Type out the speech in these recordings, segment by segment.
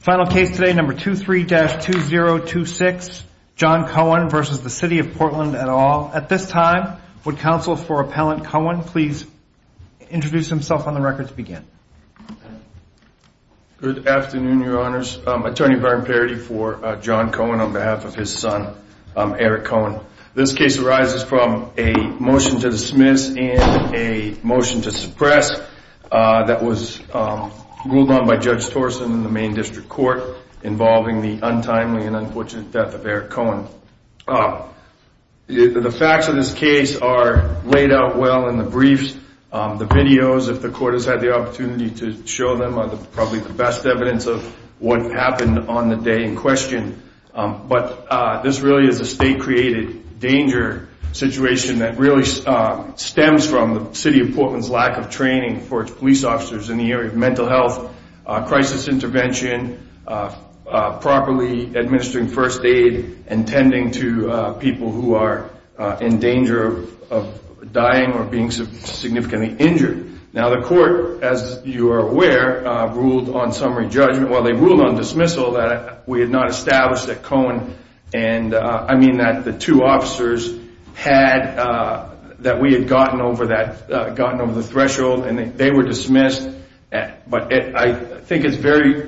Final case today, number 23-2026, John Cohen versus the City of Portland et al. At this time, would counsel for Appellant Cohen please introduce himself on the record to begin? Good afternoon, your honors. Attorney Byron Parity for John Cohen on behalf of his son, Eric Cohen. This case arises from a motion to dismiss and a motion to suppress that was ruled on by Judge Torson in the Main District Court involving the untimely and unfortunate death of Eric Cohen. The facts of this case are laid out well in the briefs. The videos, if the court has had the opportunity to show them, are probably the best evidence of what happened on the day in question, but this really is a state-created danger situation that really stems from the City of Portland's lack of training for its police officers in the area of mental health, crisis intervention, properly administering first aid, and tending to people who are in danger of dying or being significantly injured. Now the court, as you are aware, ruled on summary judgment, well they ruled on dismissal that we had not established that Cohen and, I mean that the two officers had, that we had gotten over that, gotten over the threshold and they were dismissed, but I think it's very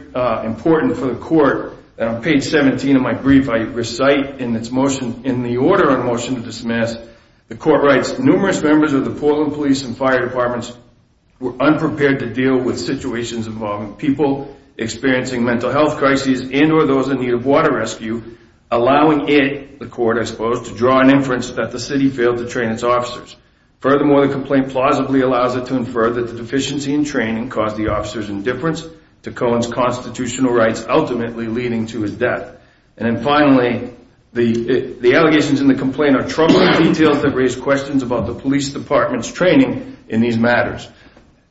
important for the court, and on page 17 of my brief I recite in its motion, in the order on motion to dismiss, the court writes, numerous members of the Portland Police and Fire Departments were unprepared to deal with situations involving people experiencing mental health crises and or those in need of water rescue, allowing it, the court I Furthermore, the complaint plausibly allows it to infer that the deficiency in training caused the officer's indifference to Cohen's constitutional rights, ultimately leading to his death. And then finally, the allegations in the complaint are troubling details that raise questions about the police department's training in these matters.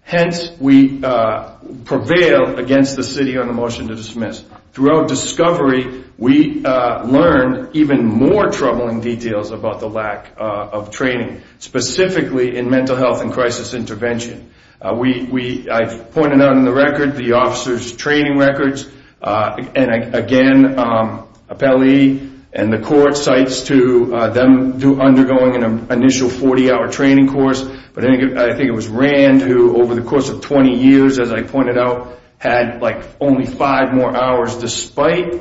Hence, we prevail against the City on the motion to dismiss. Throughout discovery, we learned even more troubling details about the lack of training, specifically in mental health and crisis intervention. We, I've pointed out in the record, the officer's training records, and again, appellee and the court cites to them undergoing an initial 40-hour training course, but I think it was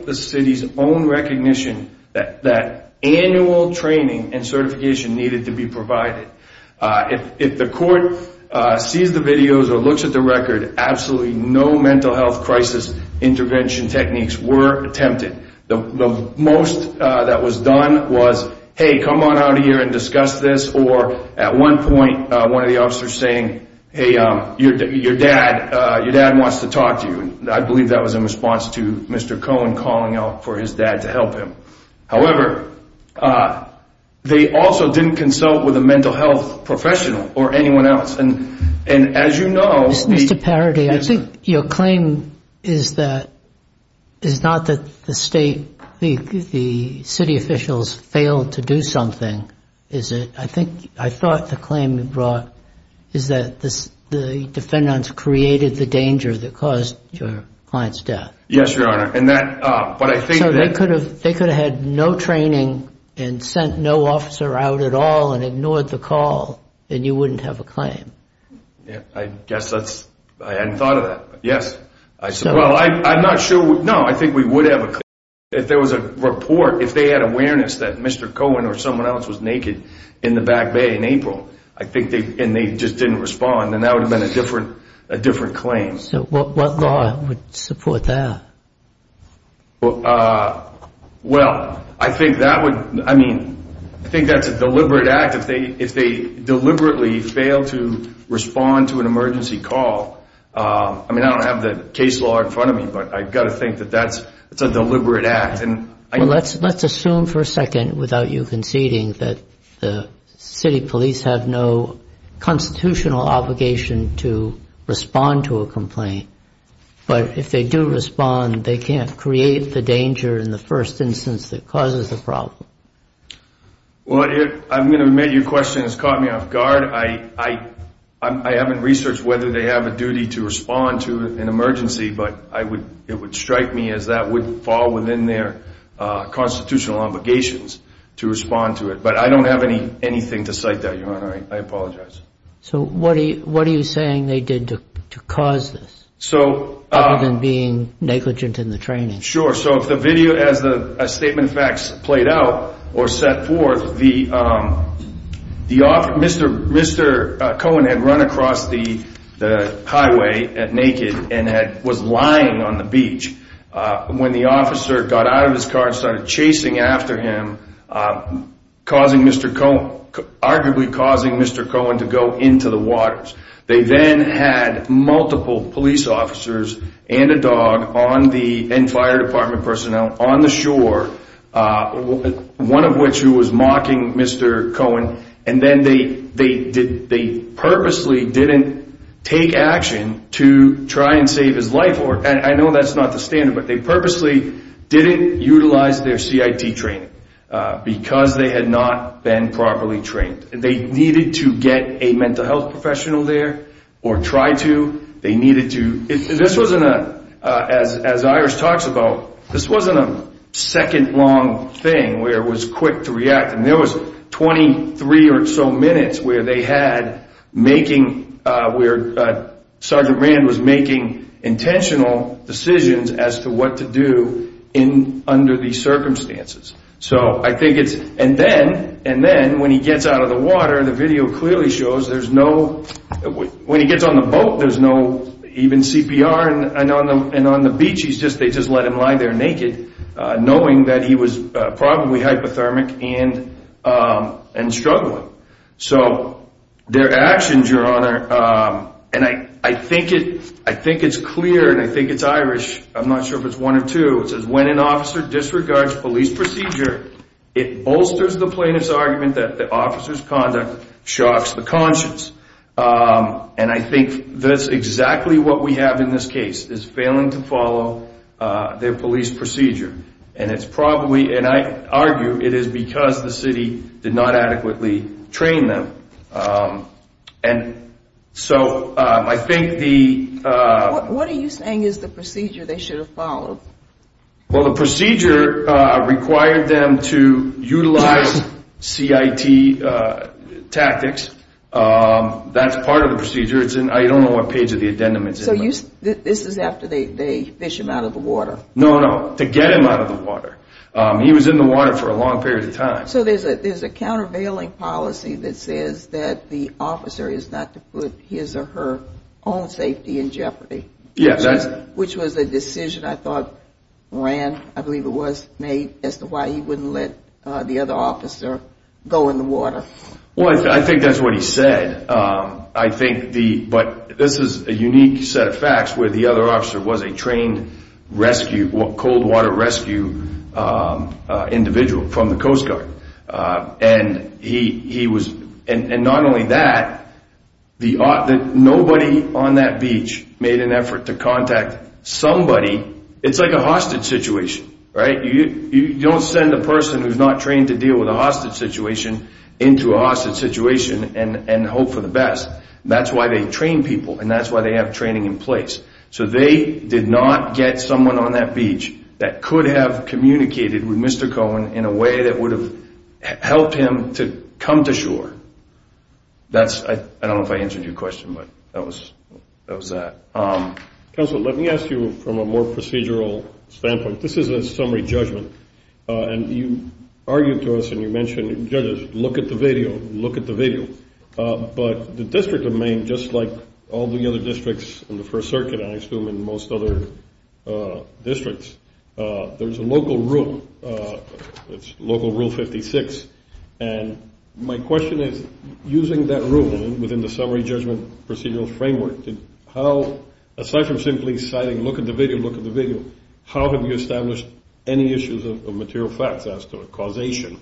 the City's own recognition that annual training and certification needed to be provided. If the court sees the videos or looks at the record, absolutely no mental health crisis intervention techniques were attempted. The most that was done was, hey, come on out here and discuss this, or at one point, one of the officers saying, hey, your dad wants to talk to you. I believe that was in response to Mr. Cohen calling out for his dad to help him. However, they also didn't consult with a mental health professional or anyone else. And as you know, Mr. Parody, I think your claim is that, is not that the state, the City officials failed to do something, is it? I think, I thought the claim you brought is that the defendants created the danger that caused your client's death. Yes, Your Honor. And that, but I think that- So they could have had no training and sent no officer out at all and ignored the call, and you wouldn't have a claim. Yeah, I guess that's, I hadn't thought of that. Yes. I said, well, I'm not sure. No, I think we would have a claim if there was a report, if they had awareness that Mr. Cohen was in the back bay in April, I think, and they just didn't respond, then that would have been a different, a different claim. So what law would support that? Well, I think that would, I mean, I think that's a deliberate act if they deliberately fail to respond to an emergency call. I mean, I don't have the case law in front of me, but I've got to think that that's a deliberate act. Let's assume for a second, without you conceding, that the city police have no constitutional obligation to respond to a complaint. But if they do respond, they can't create the danger in the first instance that causes the problem. Well, I'm going to admit your question has caught me off guard. I haven't researched whether they have a duty to respond to an emergency, but I would, it would fall within their constitutional obligations to respond to it. But I don't have any anything to cite that, Your Honor, I apologize. So what are you saying they did to cause this, other than being negligent in the training? Sure. So if the video, as the statement of facts played out or set forth, the officer, Mr. Cohen had run across the highway naked and was lying on the beach. When the officer got out of his car and started chasing after him, causing Mr. Cohen, arguably causing Mr. Cohen to go into the waters. They then had multiple police officers and a dog on the, and fire department personnel on the shore, one of which who was mocking Mr. Cohen. And then they purposely didn't take action to try and save his life. And I know that's not the standard, but they purposely didn't utilize their CIT training because they had not been properly trained and they needed to get a mental health professional there or try to, they needed to, this wasn't a, as Iris talks about, this wasn't a second long thing where it was quick to react. And there was twenty three or so minutes where they had making, where Sergeant Rand was making intentional decisions as to what to do in, under these circumstances. So I think it's, and then, and then when he gets out of the water, the video clearly shows there's no, when he gets on the boat, there's no even CPR and on the beach, he's just, they just let him lie there naked knowing that he was probably hypothermic and struggling. So their actions, Your Honor. And I think it, I think it's clear and I think it's Irish. I'm not sure if it's one or two. It says when an officer disregards police procedure, it bolsters the plaintiff's argument that the officer's conduct shocks the conscience. And I think that's exactly what we have in this case, is failing to follow their police procedure. And it's probably, and I argue it is because the city did not adequately train them. And so I think the. What are you saying is the procedure they should have followed? Well, the procedure required them to utilize CIT tactics. That's part of the procedure. I don't know what page of the addendum it's in. So this is after they fish him out of the water. No, no. To get him out of the water. He was in the water for a long period of time. So there's a there's a countervailing policy that says that the officer is not to put his or her own safety in jeopardy. Yes. Which was a decision I thought ran. I believe it was made as to why he wouldn't let the other officer go in the water. Well, I think that's what he said. I think the but this is a unique set of facts where the other officer was a trained rescue or cold water rescue individual from the Coast Guard. And he he was. And not only that, the nobody on that beach made an effort to contact somebody. It's like a hostage situation. Right. You don't send a person who's not trained to deal with a hostage situation into a hostage situation and hope for the best. That's why they train people and that's why they have training in place. So they did not get someone on that beach that could have communicated with Mr. Cohen in a way that would have helped him to come to shore. That's I don't know if I answered your question, but that was that was that. Counselor, let me ask you from a more procedural standpoint. This is a summary judgment. And you argued to us and you mentioned judges. Look at the video. Look at the video. But the district of Maine, just like all the other districts in the First Circuit, I assume in most other districts, there's a local rule, local rule 56. And my question is, using that rule within the summary judgment procedural framework, how aside from simply citing, look at the video, look at the video, how have you established any issues of material facts as to a causation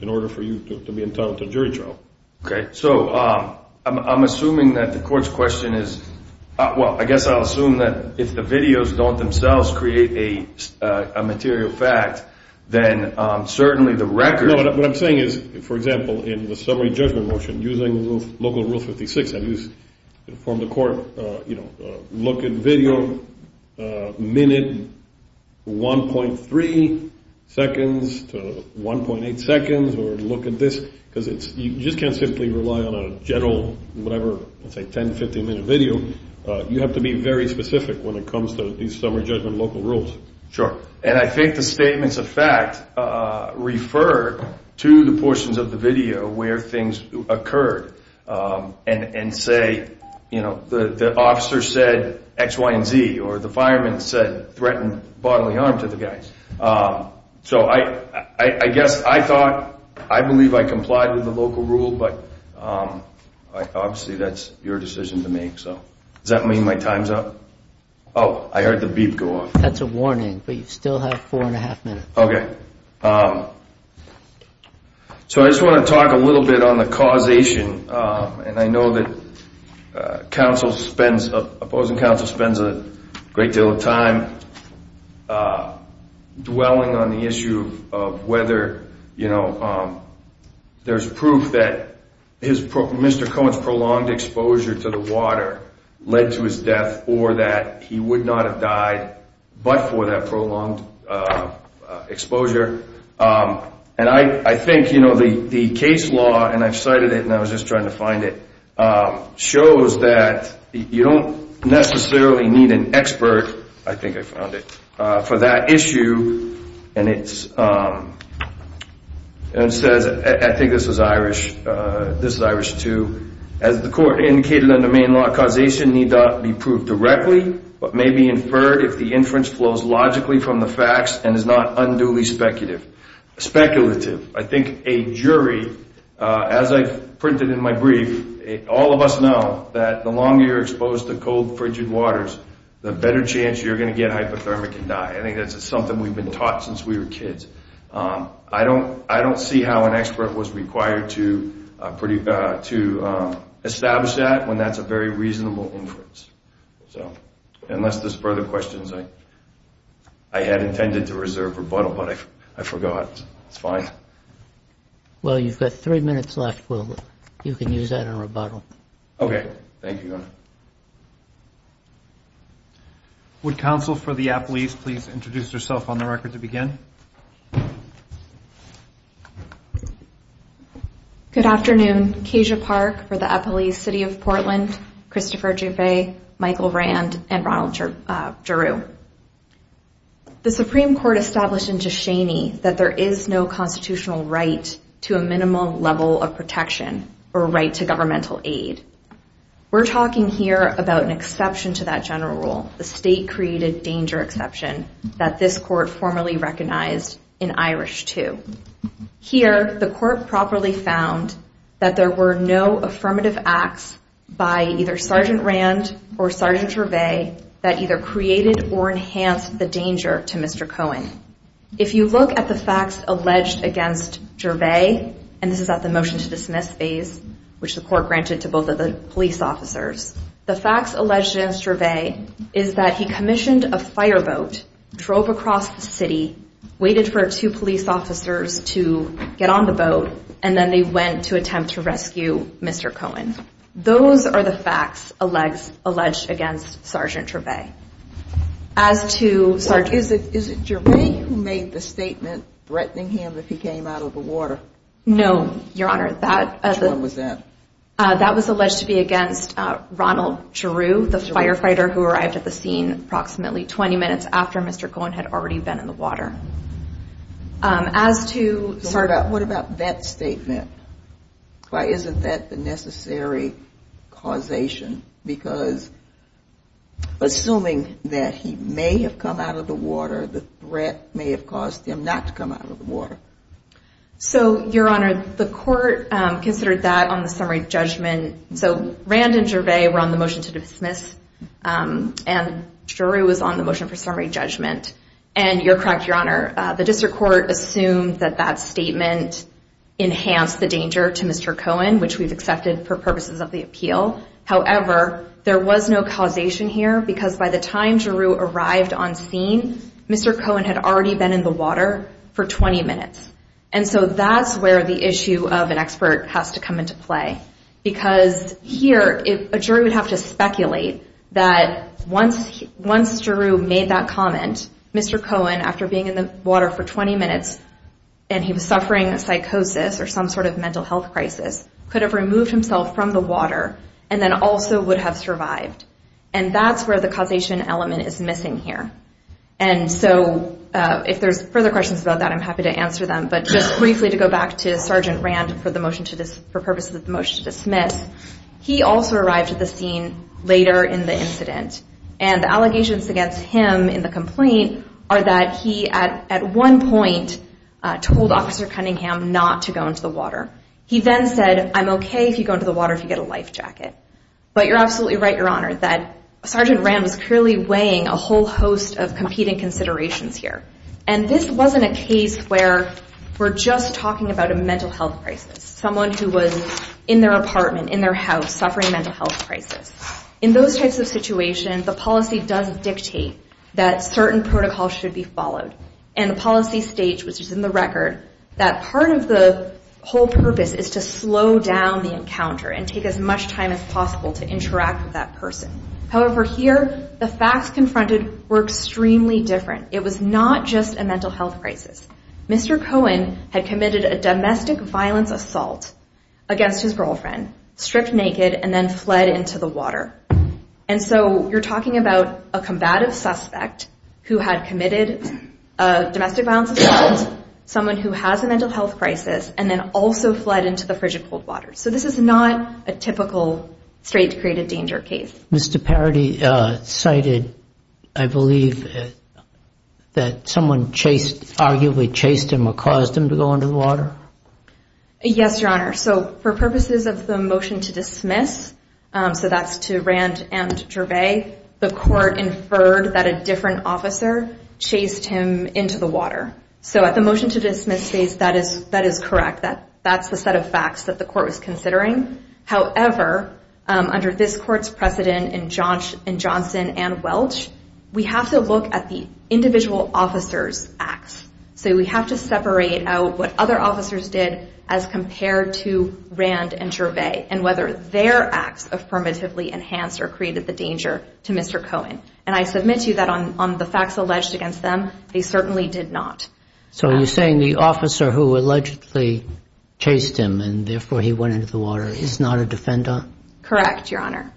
in order for you to be entitled to a jury trial? OK, so I'm assuming that the court's question is, well, I guess I'll assume that if the videos don't themselves create a material fact, then certainly the record. What I'm saying is, for example, in the summary judgment motion, using local rule 56, I use from the court, you know, look at video minute one point three seconds to one point eight seconds or look at this because it's you just can't simply rely on a general, whatever, let's say 10, 15 minute video. You have to be very specific when it comes to these summary judgment local rules. Sure. And I think the statements of fact refer to the portions of the video where things occurred and say, you know, the officer said X, Y and Z or the fireman said threatened bodily harm to the guys. So I guess I thought, I believe I complied with the local rule, but obviously that's your decision to make. So does that mean my time's up? Oh, I heard the beep go off. That's a warning. But you still have four and a half minutes. OK. So I just want to talk a little bit on the causation. And I know that counsel spends, opposing counsel spends a great deal of time dwelling on the issue of whether, you know, there's proof that his Mr. Cohen's prolonged exposure to the water led to his death or that he would not have died. But for that prolonged exposure. And I think, you know, the case law and I've cited it and I was just trying to find it shows that you don't necessarily need an expert. I think I found it for that issue. And it says, I think this is Irish. This is Irish too. As the court indicated in the main law, causation need not be proved directly, but may be inferred if the inference flows logically from the facts and is not unduly speculative. Speculative. I think a jury, as I've printed in my brief, all of us know that the longer you're exposed to cold, frigid waters, the better chance you're going to get hypothermia can die. I think that's something we've been taught since we were kids. I don't, I don't see how an expert was required to pretty, to establish that when that's a very reasonable inference. So unless there's further questions. I had intended to reserve rebuttal, but I forgot. It's fine. Well, you've got three minutes left. Well, you can use that in rebuttal. Okay. Thank you. Would counsel for the Appalese please introduce yourself on the record to begin? Good afternoon. Keisha Park for the Appalese City of Portland. Christopher Jouffet, Michael Rand and Ronald Giroux. The Supreme Court established in Ducheney that there is no constitutional right to a We're talking here about an exception to that general rule. The state created danger exception that this court formally recognized in Irish too. Here, the court properly found that there were no affirmative acts by either Sergeant Rand or Sergeant Jouffet that either created or enhanced the danger to Mr. Cohen. If you look at the facts alleged against Jouffet, and this is at the motion to dismiss phase, which the court granted to both of the police officers. The facts alleged against Jouffet is that he commissioned a fireboat, drove across the city, waited for two police officers to get on the boat, and then they went to attempt to rescue Mr. Cohen. Those are the facts alleged against Sergeant Jouffet. As to Sergeant... Is it Jouffet who made the statement threatening him if he came out of the water? No, Your Honor. Which one was that? That was alleged to be against Ronald Drew, the firefighter who arrived at the scene approximately 20 minutes after Mr. Cohen had already been in the water. As to... What about that statement? Why isn't that the necessary causation? Because assuming that he may have come out of the water, the threat may have caused him not to come out of the water. So, Your Honor, the court considered that on the summary judgment. So Rand and Jouffet were on the motion to dismiss, and Jouffet was on the motion for summary judgment. And you're correct, Your Honor. The district court assumed that that statement enhanced the danger to Mr. Cohen, which we've accepted for purposes of the appeal. However, there was no causation here because by the time Jouffet arrived on scene, Mr. And so that's where the issue of an expert has to come into play. Because here, a jury would have to speculate that once Drew made that comment, Mr. Cohen, after being in the water for 20 minutes and he was suffering psychosis or some sort of mental health crisis, could have removed himself from the water and then also would have survived. And that's where the causation element is missing here. And so if there's further questions about that, I'm happy to answer them. But just briefly to go back to Sergeant Rand for the motion to this, for purposes of the motion to dismiss, he also arrived at the scene later in the incident. And the allegations against him in the complaint are that he at one point told Officer Cunningham not to go into the water. He then said, I'm OK if you go into the water, if you get a life jacket. But you're absolutely right, Your Honor, that Sergeant Rand is clearly weighing a whole host of competing considerations here. And this wasn't a case where we're just talking about a mental health crisis, someone who was in their apartment, in their house, suffering mental health crisis. In those types of situations, the policy does dictate that certain protocols should be followed. And the policy states, which is in the record, that part of the whole purpose is to slow down the encounter and take as much time as possible to interact with that person. However, here, the facts confronted were extremely different. It was not just a mental health crisis. Mr. Cohen had committed a domestic violence assault against his girlfriend, stripped naked and then fled into the water. And so you're talking about a combative suspect who had committed a domestic violence assault, someone who has a mental health crisis and then also fled into the frigid cold waters. So this is not a typical straight to create a danger case. Mr. Parody cited, I believe, that someone chased, arguably chased him or caused him to go into the water. Yes, Your Honor. So for purposes of the motion to dismiss, so that's to Rand and Gervais, the court inferred that a different officer chased him into the water. So at the motion to dismiss phase, that is that is correct. That that's the set of facts that the court was considering. However, under this court's precedent in Johnson and Welch, we have to look at the individual officer's acts. So we have to separate out what other officers did as compared to Rand and Gervais and whether their acts affirmatively enhanced or created the danger to Mr. Cohen. And I submit to you that on the facts alleged against them, they certainly did not. So you're saying the officer who allegedly chased him and therefore he went into the water is not a defender? Correct, Your Honor.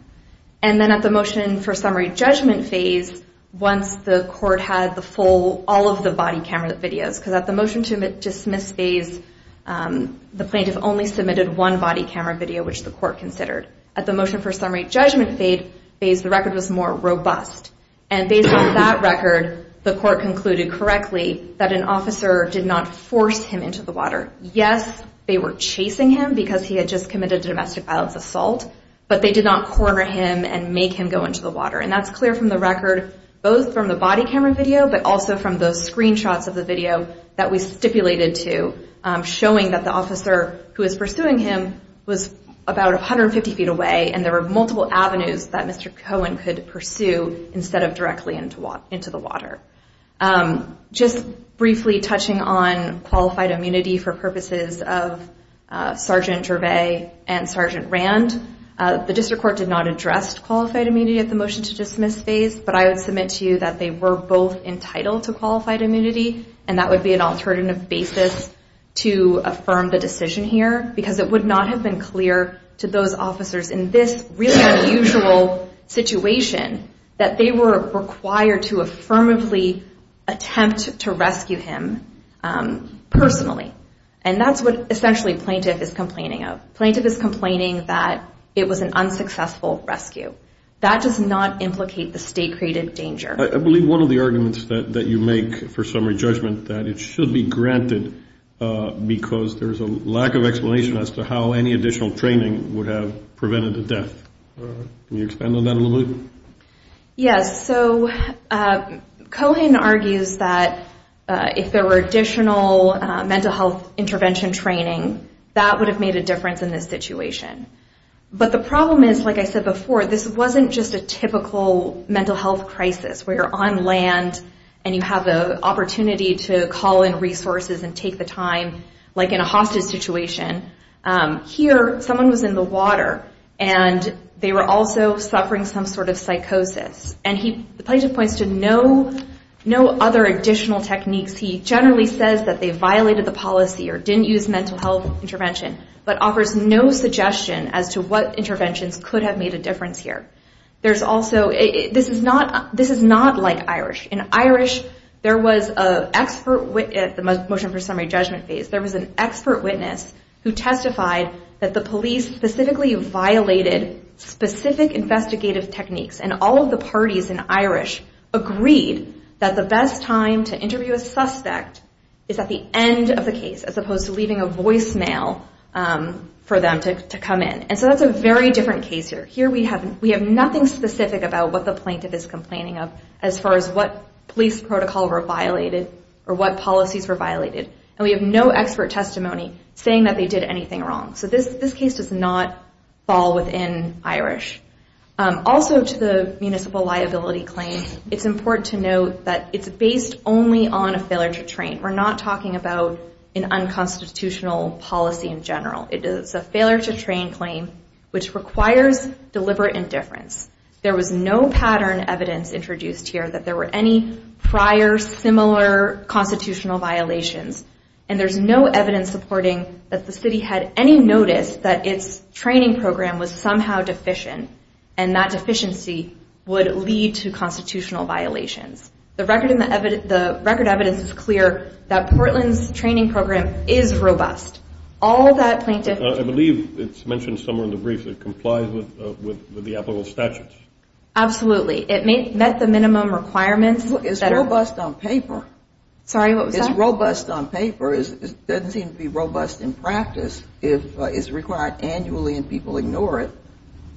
And then at the motion for summary judgment phase, once the court had the full, all of the body camera videos, because at the motion to dismiss phase, the plaintiff only submitted one body camera video, which the court considered. At the motion for summary judgment phase, the record was more robust. And based on that record, the court concluded correctly that an officer did not force him into the water. Yes, they were chasing him because he had just committed a domestic violence assault. But they did not corner him and make him go into the water. And that's clear from the record, both from the body camera video, but also from those screenshots of the video that we stipulated to showing that the officer who is pursuing him was about 150 feet away. And there were multiple avenues that Mr. Cohen could pursue instead of directly into the water. Just briefly touching on qualified immunity for purposes of Sergeant Gervais and Sergeant Rand, the district court did not address qualified immunity at the motion to dismiss phase. But I would submit to you that they were both entitled to qualified immunity. And that would be an alternative basis to affirm the decision here because it would not have been clear to those officers in this really unusual situation that they were required to affirmatively attempt to rescue him personally. And that's what essentially plaintiff is complaining of. Plaintiff is complaining that it was an unsuccessful rescue. That does not implicate the state created danger. I believe one of the arguments that you make for summary judgment that it should be granted because there's a lack of training would have prevented the death. Can you expand on that a little bit? Yes. So Cohen argues that if there were additional mental health intervention training, that would have made a difference in this situation. But the problem is, like I said before, this wasn't just a typical mental health crisis where you're on land and you have the opportunity to call in resources and take the time, like in a hostage situation. Here, someone was in the water and they were also suffering some sort of psychosis. And the plaintiff points to no other additional techniques. He generally says that they violated the policy or didn't use mental health intervention, but offers no suggestion as to what interventions could have made a difference here. There's also, this is not like Irish. In Irish, there was an expert, the motion for summary judgment phase, there was an expert witness who testified that the police specifically violated specific investigative techniques. And all of the parties in Irish agreed that the best time to interview a suspect is at the end of the case, as opposed to leaving a voicemail for them to come in. And so that's a very different case here. Here, we have nothing specific about what the plaintiff is complaining of, as far as what police protocol were violated or what policies were violated. And we have no expert testimony saying that they did anything wrong. So this case does not fall within Irish. Also, to the municipal liability claim, it's important to note that it's based only on a failure to train. We're not talking about an unconstitutional policy in general. It is a failure to train claim, which requires deliberate indifference. There was no pattern evidence introduced here that there were any prior similar constitutional violations. And there's no evidence supporting that the city had any notice that its training program was somehow deficient. And that deficiency would lead to constitutional violations. The record and the record evidence is clear that Portland's training program is robust. All that plaintiff... I believe it's mentioned somewhere in the brief that it complies with the applicable statutes. Absolutely. It met the minimum requirements. It's robust on paper. Sorry, what was that? It's robust on paper. It doesn't seem to be robust in practice if it's required annually and people ignore it.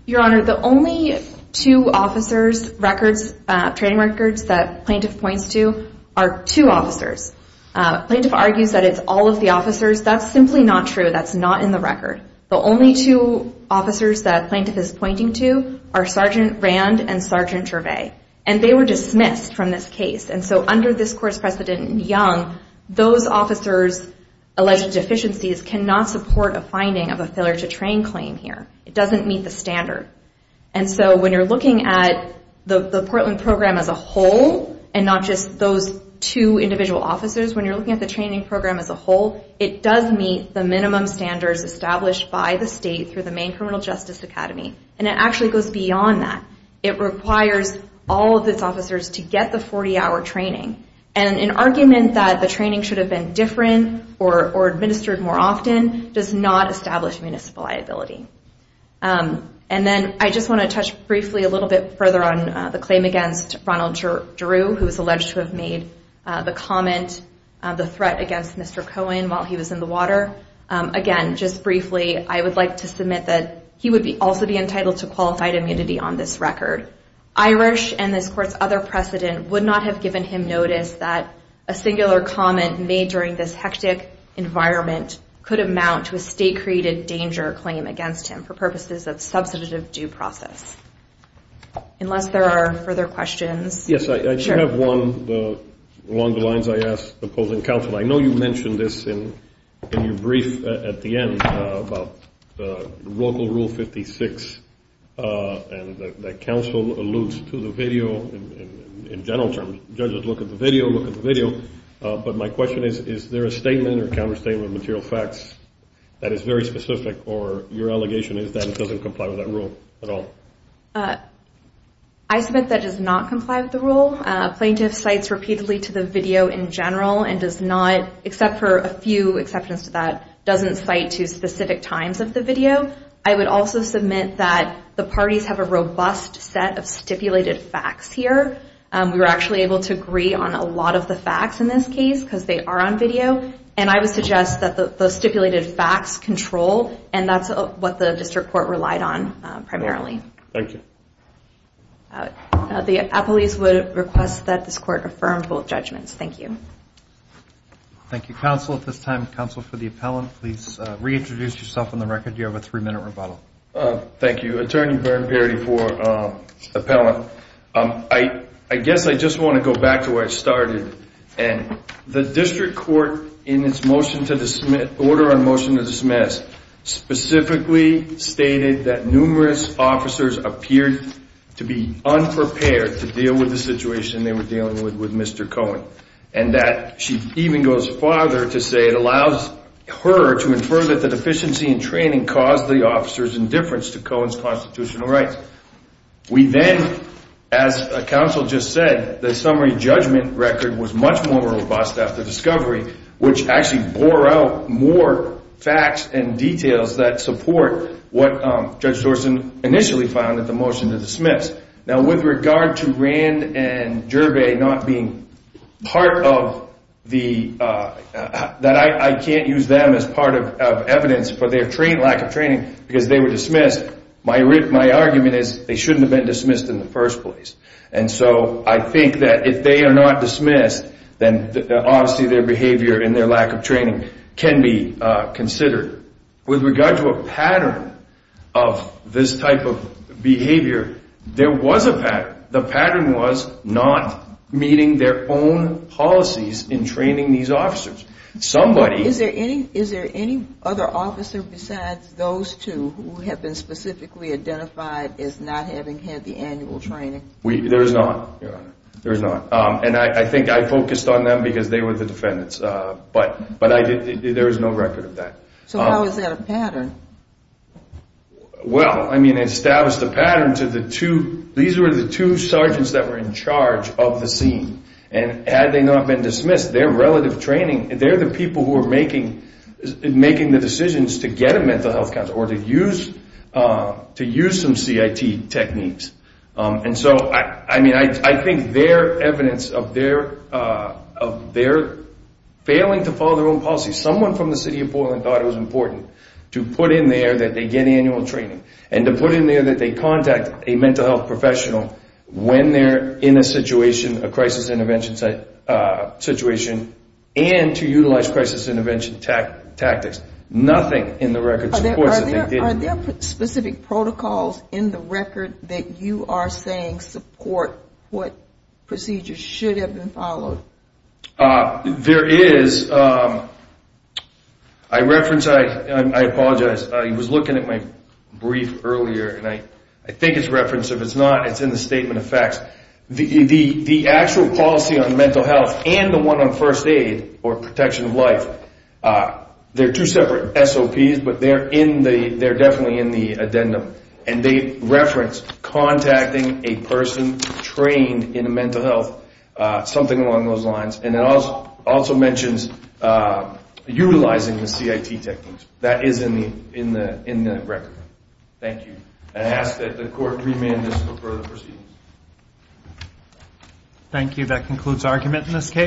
Your Honor, the only two officers' records, training records, that plaintiff points to are two officers. Plaintiff argues that it's all of the officers. That's simply not true. That's not in the record. The only two officers that plaintiff is pointing to are Sergeant Rand and Sergeant Gervais. And they were dismissed from this case. And so under this court's precedent in Young, those officers' alleged deficiencies cannot support a finding of a failure to train claim here. It doesn't meet the standard. And so when you're looking at the Portland program as a whole and not just those two individual officers, when you're looking at the training program as a whole, it does meet the minimum standards established by the state through the Maine Criminal Justice Academy. And it actually goes beyond that. It requires all of its officers to get the 40-hour training. And an argument that the training should have been different or administered more often does not establish municipal liability. And then I just want to touch briefly a little bit further on the claim against Ronald Drew, who was alleged to have made the comment the threat against Mr. Cohen while he was in the water. Again, just briefly, I would like to submit that he would also be entitled to qualified immunity on this record. Irish and this court's other precedent would not have given him notice that a singular comment made during this hectic environment could amount to a state-created danger claim against him for purposes of substantive due process. Unless there are further questions. Yes, I do have one along the lines I asked the opposing counsel. I know you mentioned this in your brief at the end about Local Rule 56 and that counsel alludes to the video in general terms. Judges look at the video, look at the video. But my question is, is there a statement or counterstatement of material facts that is very specific or your allegation is that it doesn't comply with that rule at all? I submit that it does not comply with the rule. Plaintiff cites repeatedly to the video in general and does not, except for a few exceptions to that, doesn't cite to specific times of the video. I would also submit that the parties have a robust set of stipulated facts here. We were actually able to agree on a lot of the facts in this case because they are on video. And I would suggest that the stipulated facts control and that's what the district court relied on primarily. Thank you. The appellees would request that this court affirmed both judgments. Thank you. Thank you, counsel. At this time, counsel for the appellant, please reintroduce yourself on the record. You have a three minute rebuttal. Thank you, Attorney Byrne Parity for the appellant. I guess I just want to go back to where it started and the district court in its order on motion to dismiss specifically stated that numerous officers appeared to be unprepared to deal with the situation they were dealing with with Mr. Cohen and that she even goes farther to say it allows her to infer that the deficiency in training caused the officer's indifference to Cohen's constitutional rights. We then, as counsel just said, the summary judgment record was much more robust after discovery, which actually bore out more facts and motion to dismiss. Now, with regard to Rand and Gerbe not being part of the that, I can't use them as part of evidence for their train lack of training because they were dismissed. My my argument is they shouldn't have been dismissed in the first place. And so I think that if they are not dismissed, then obviously their behavior and their lack of training can be considered with regard to a pattern of this type of behavior. There was a pattern. The pattern was not meeting their own policies in training these officers. Somebody is there any is there any other officer besides those two who have been specifically identified as not having had the annual training? We there is not. There is not. And I think I focused on them because they were the defendants. But but I did. There is no record of that. So how is that a pattern? Well, I mean, it established a pattern to the two. These were the two sergeants that were in charge of the scene. And had they not been dismissed, their relative training, they're the people who are making making the decisions to get a mental health counselor or to use to use some CIT techniques. And so, I mean, I think their evidence of their of their failing to follow their own policy, someone from the city of Portland thought it was And to put in there that they contact a mental health professional when they're in a situation, a crisis intervention site situation and to utilize crisis intervention tactics. Nothing in the record. Are there specific protocols in the record that you are saying support what procedures should have been followed? There is. I reference I apologize. He was looking at my brief earlier and I I think it's reference if it's not, it's in the statement of facts. The the the actual policy on mental health and the one on first aid or protection of life. There are two separate SOPs, but they're in the they're definitely in the addendum. And they reference contacting a person trained in mental health, something along those lines. And it also also mentions utilizing the CIT techniques that is in the in the in the record. Thank you. And I ask that the court remand this for further proceedings. Thank you. That concludes argument in this case.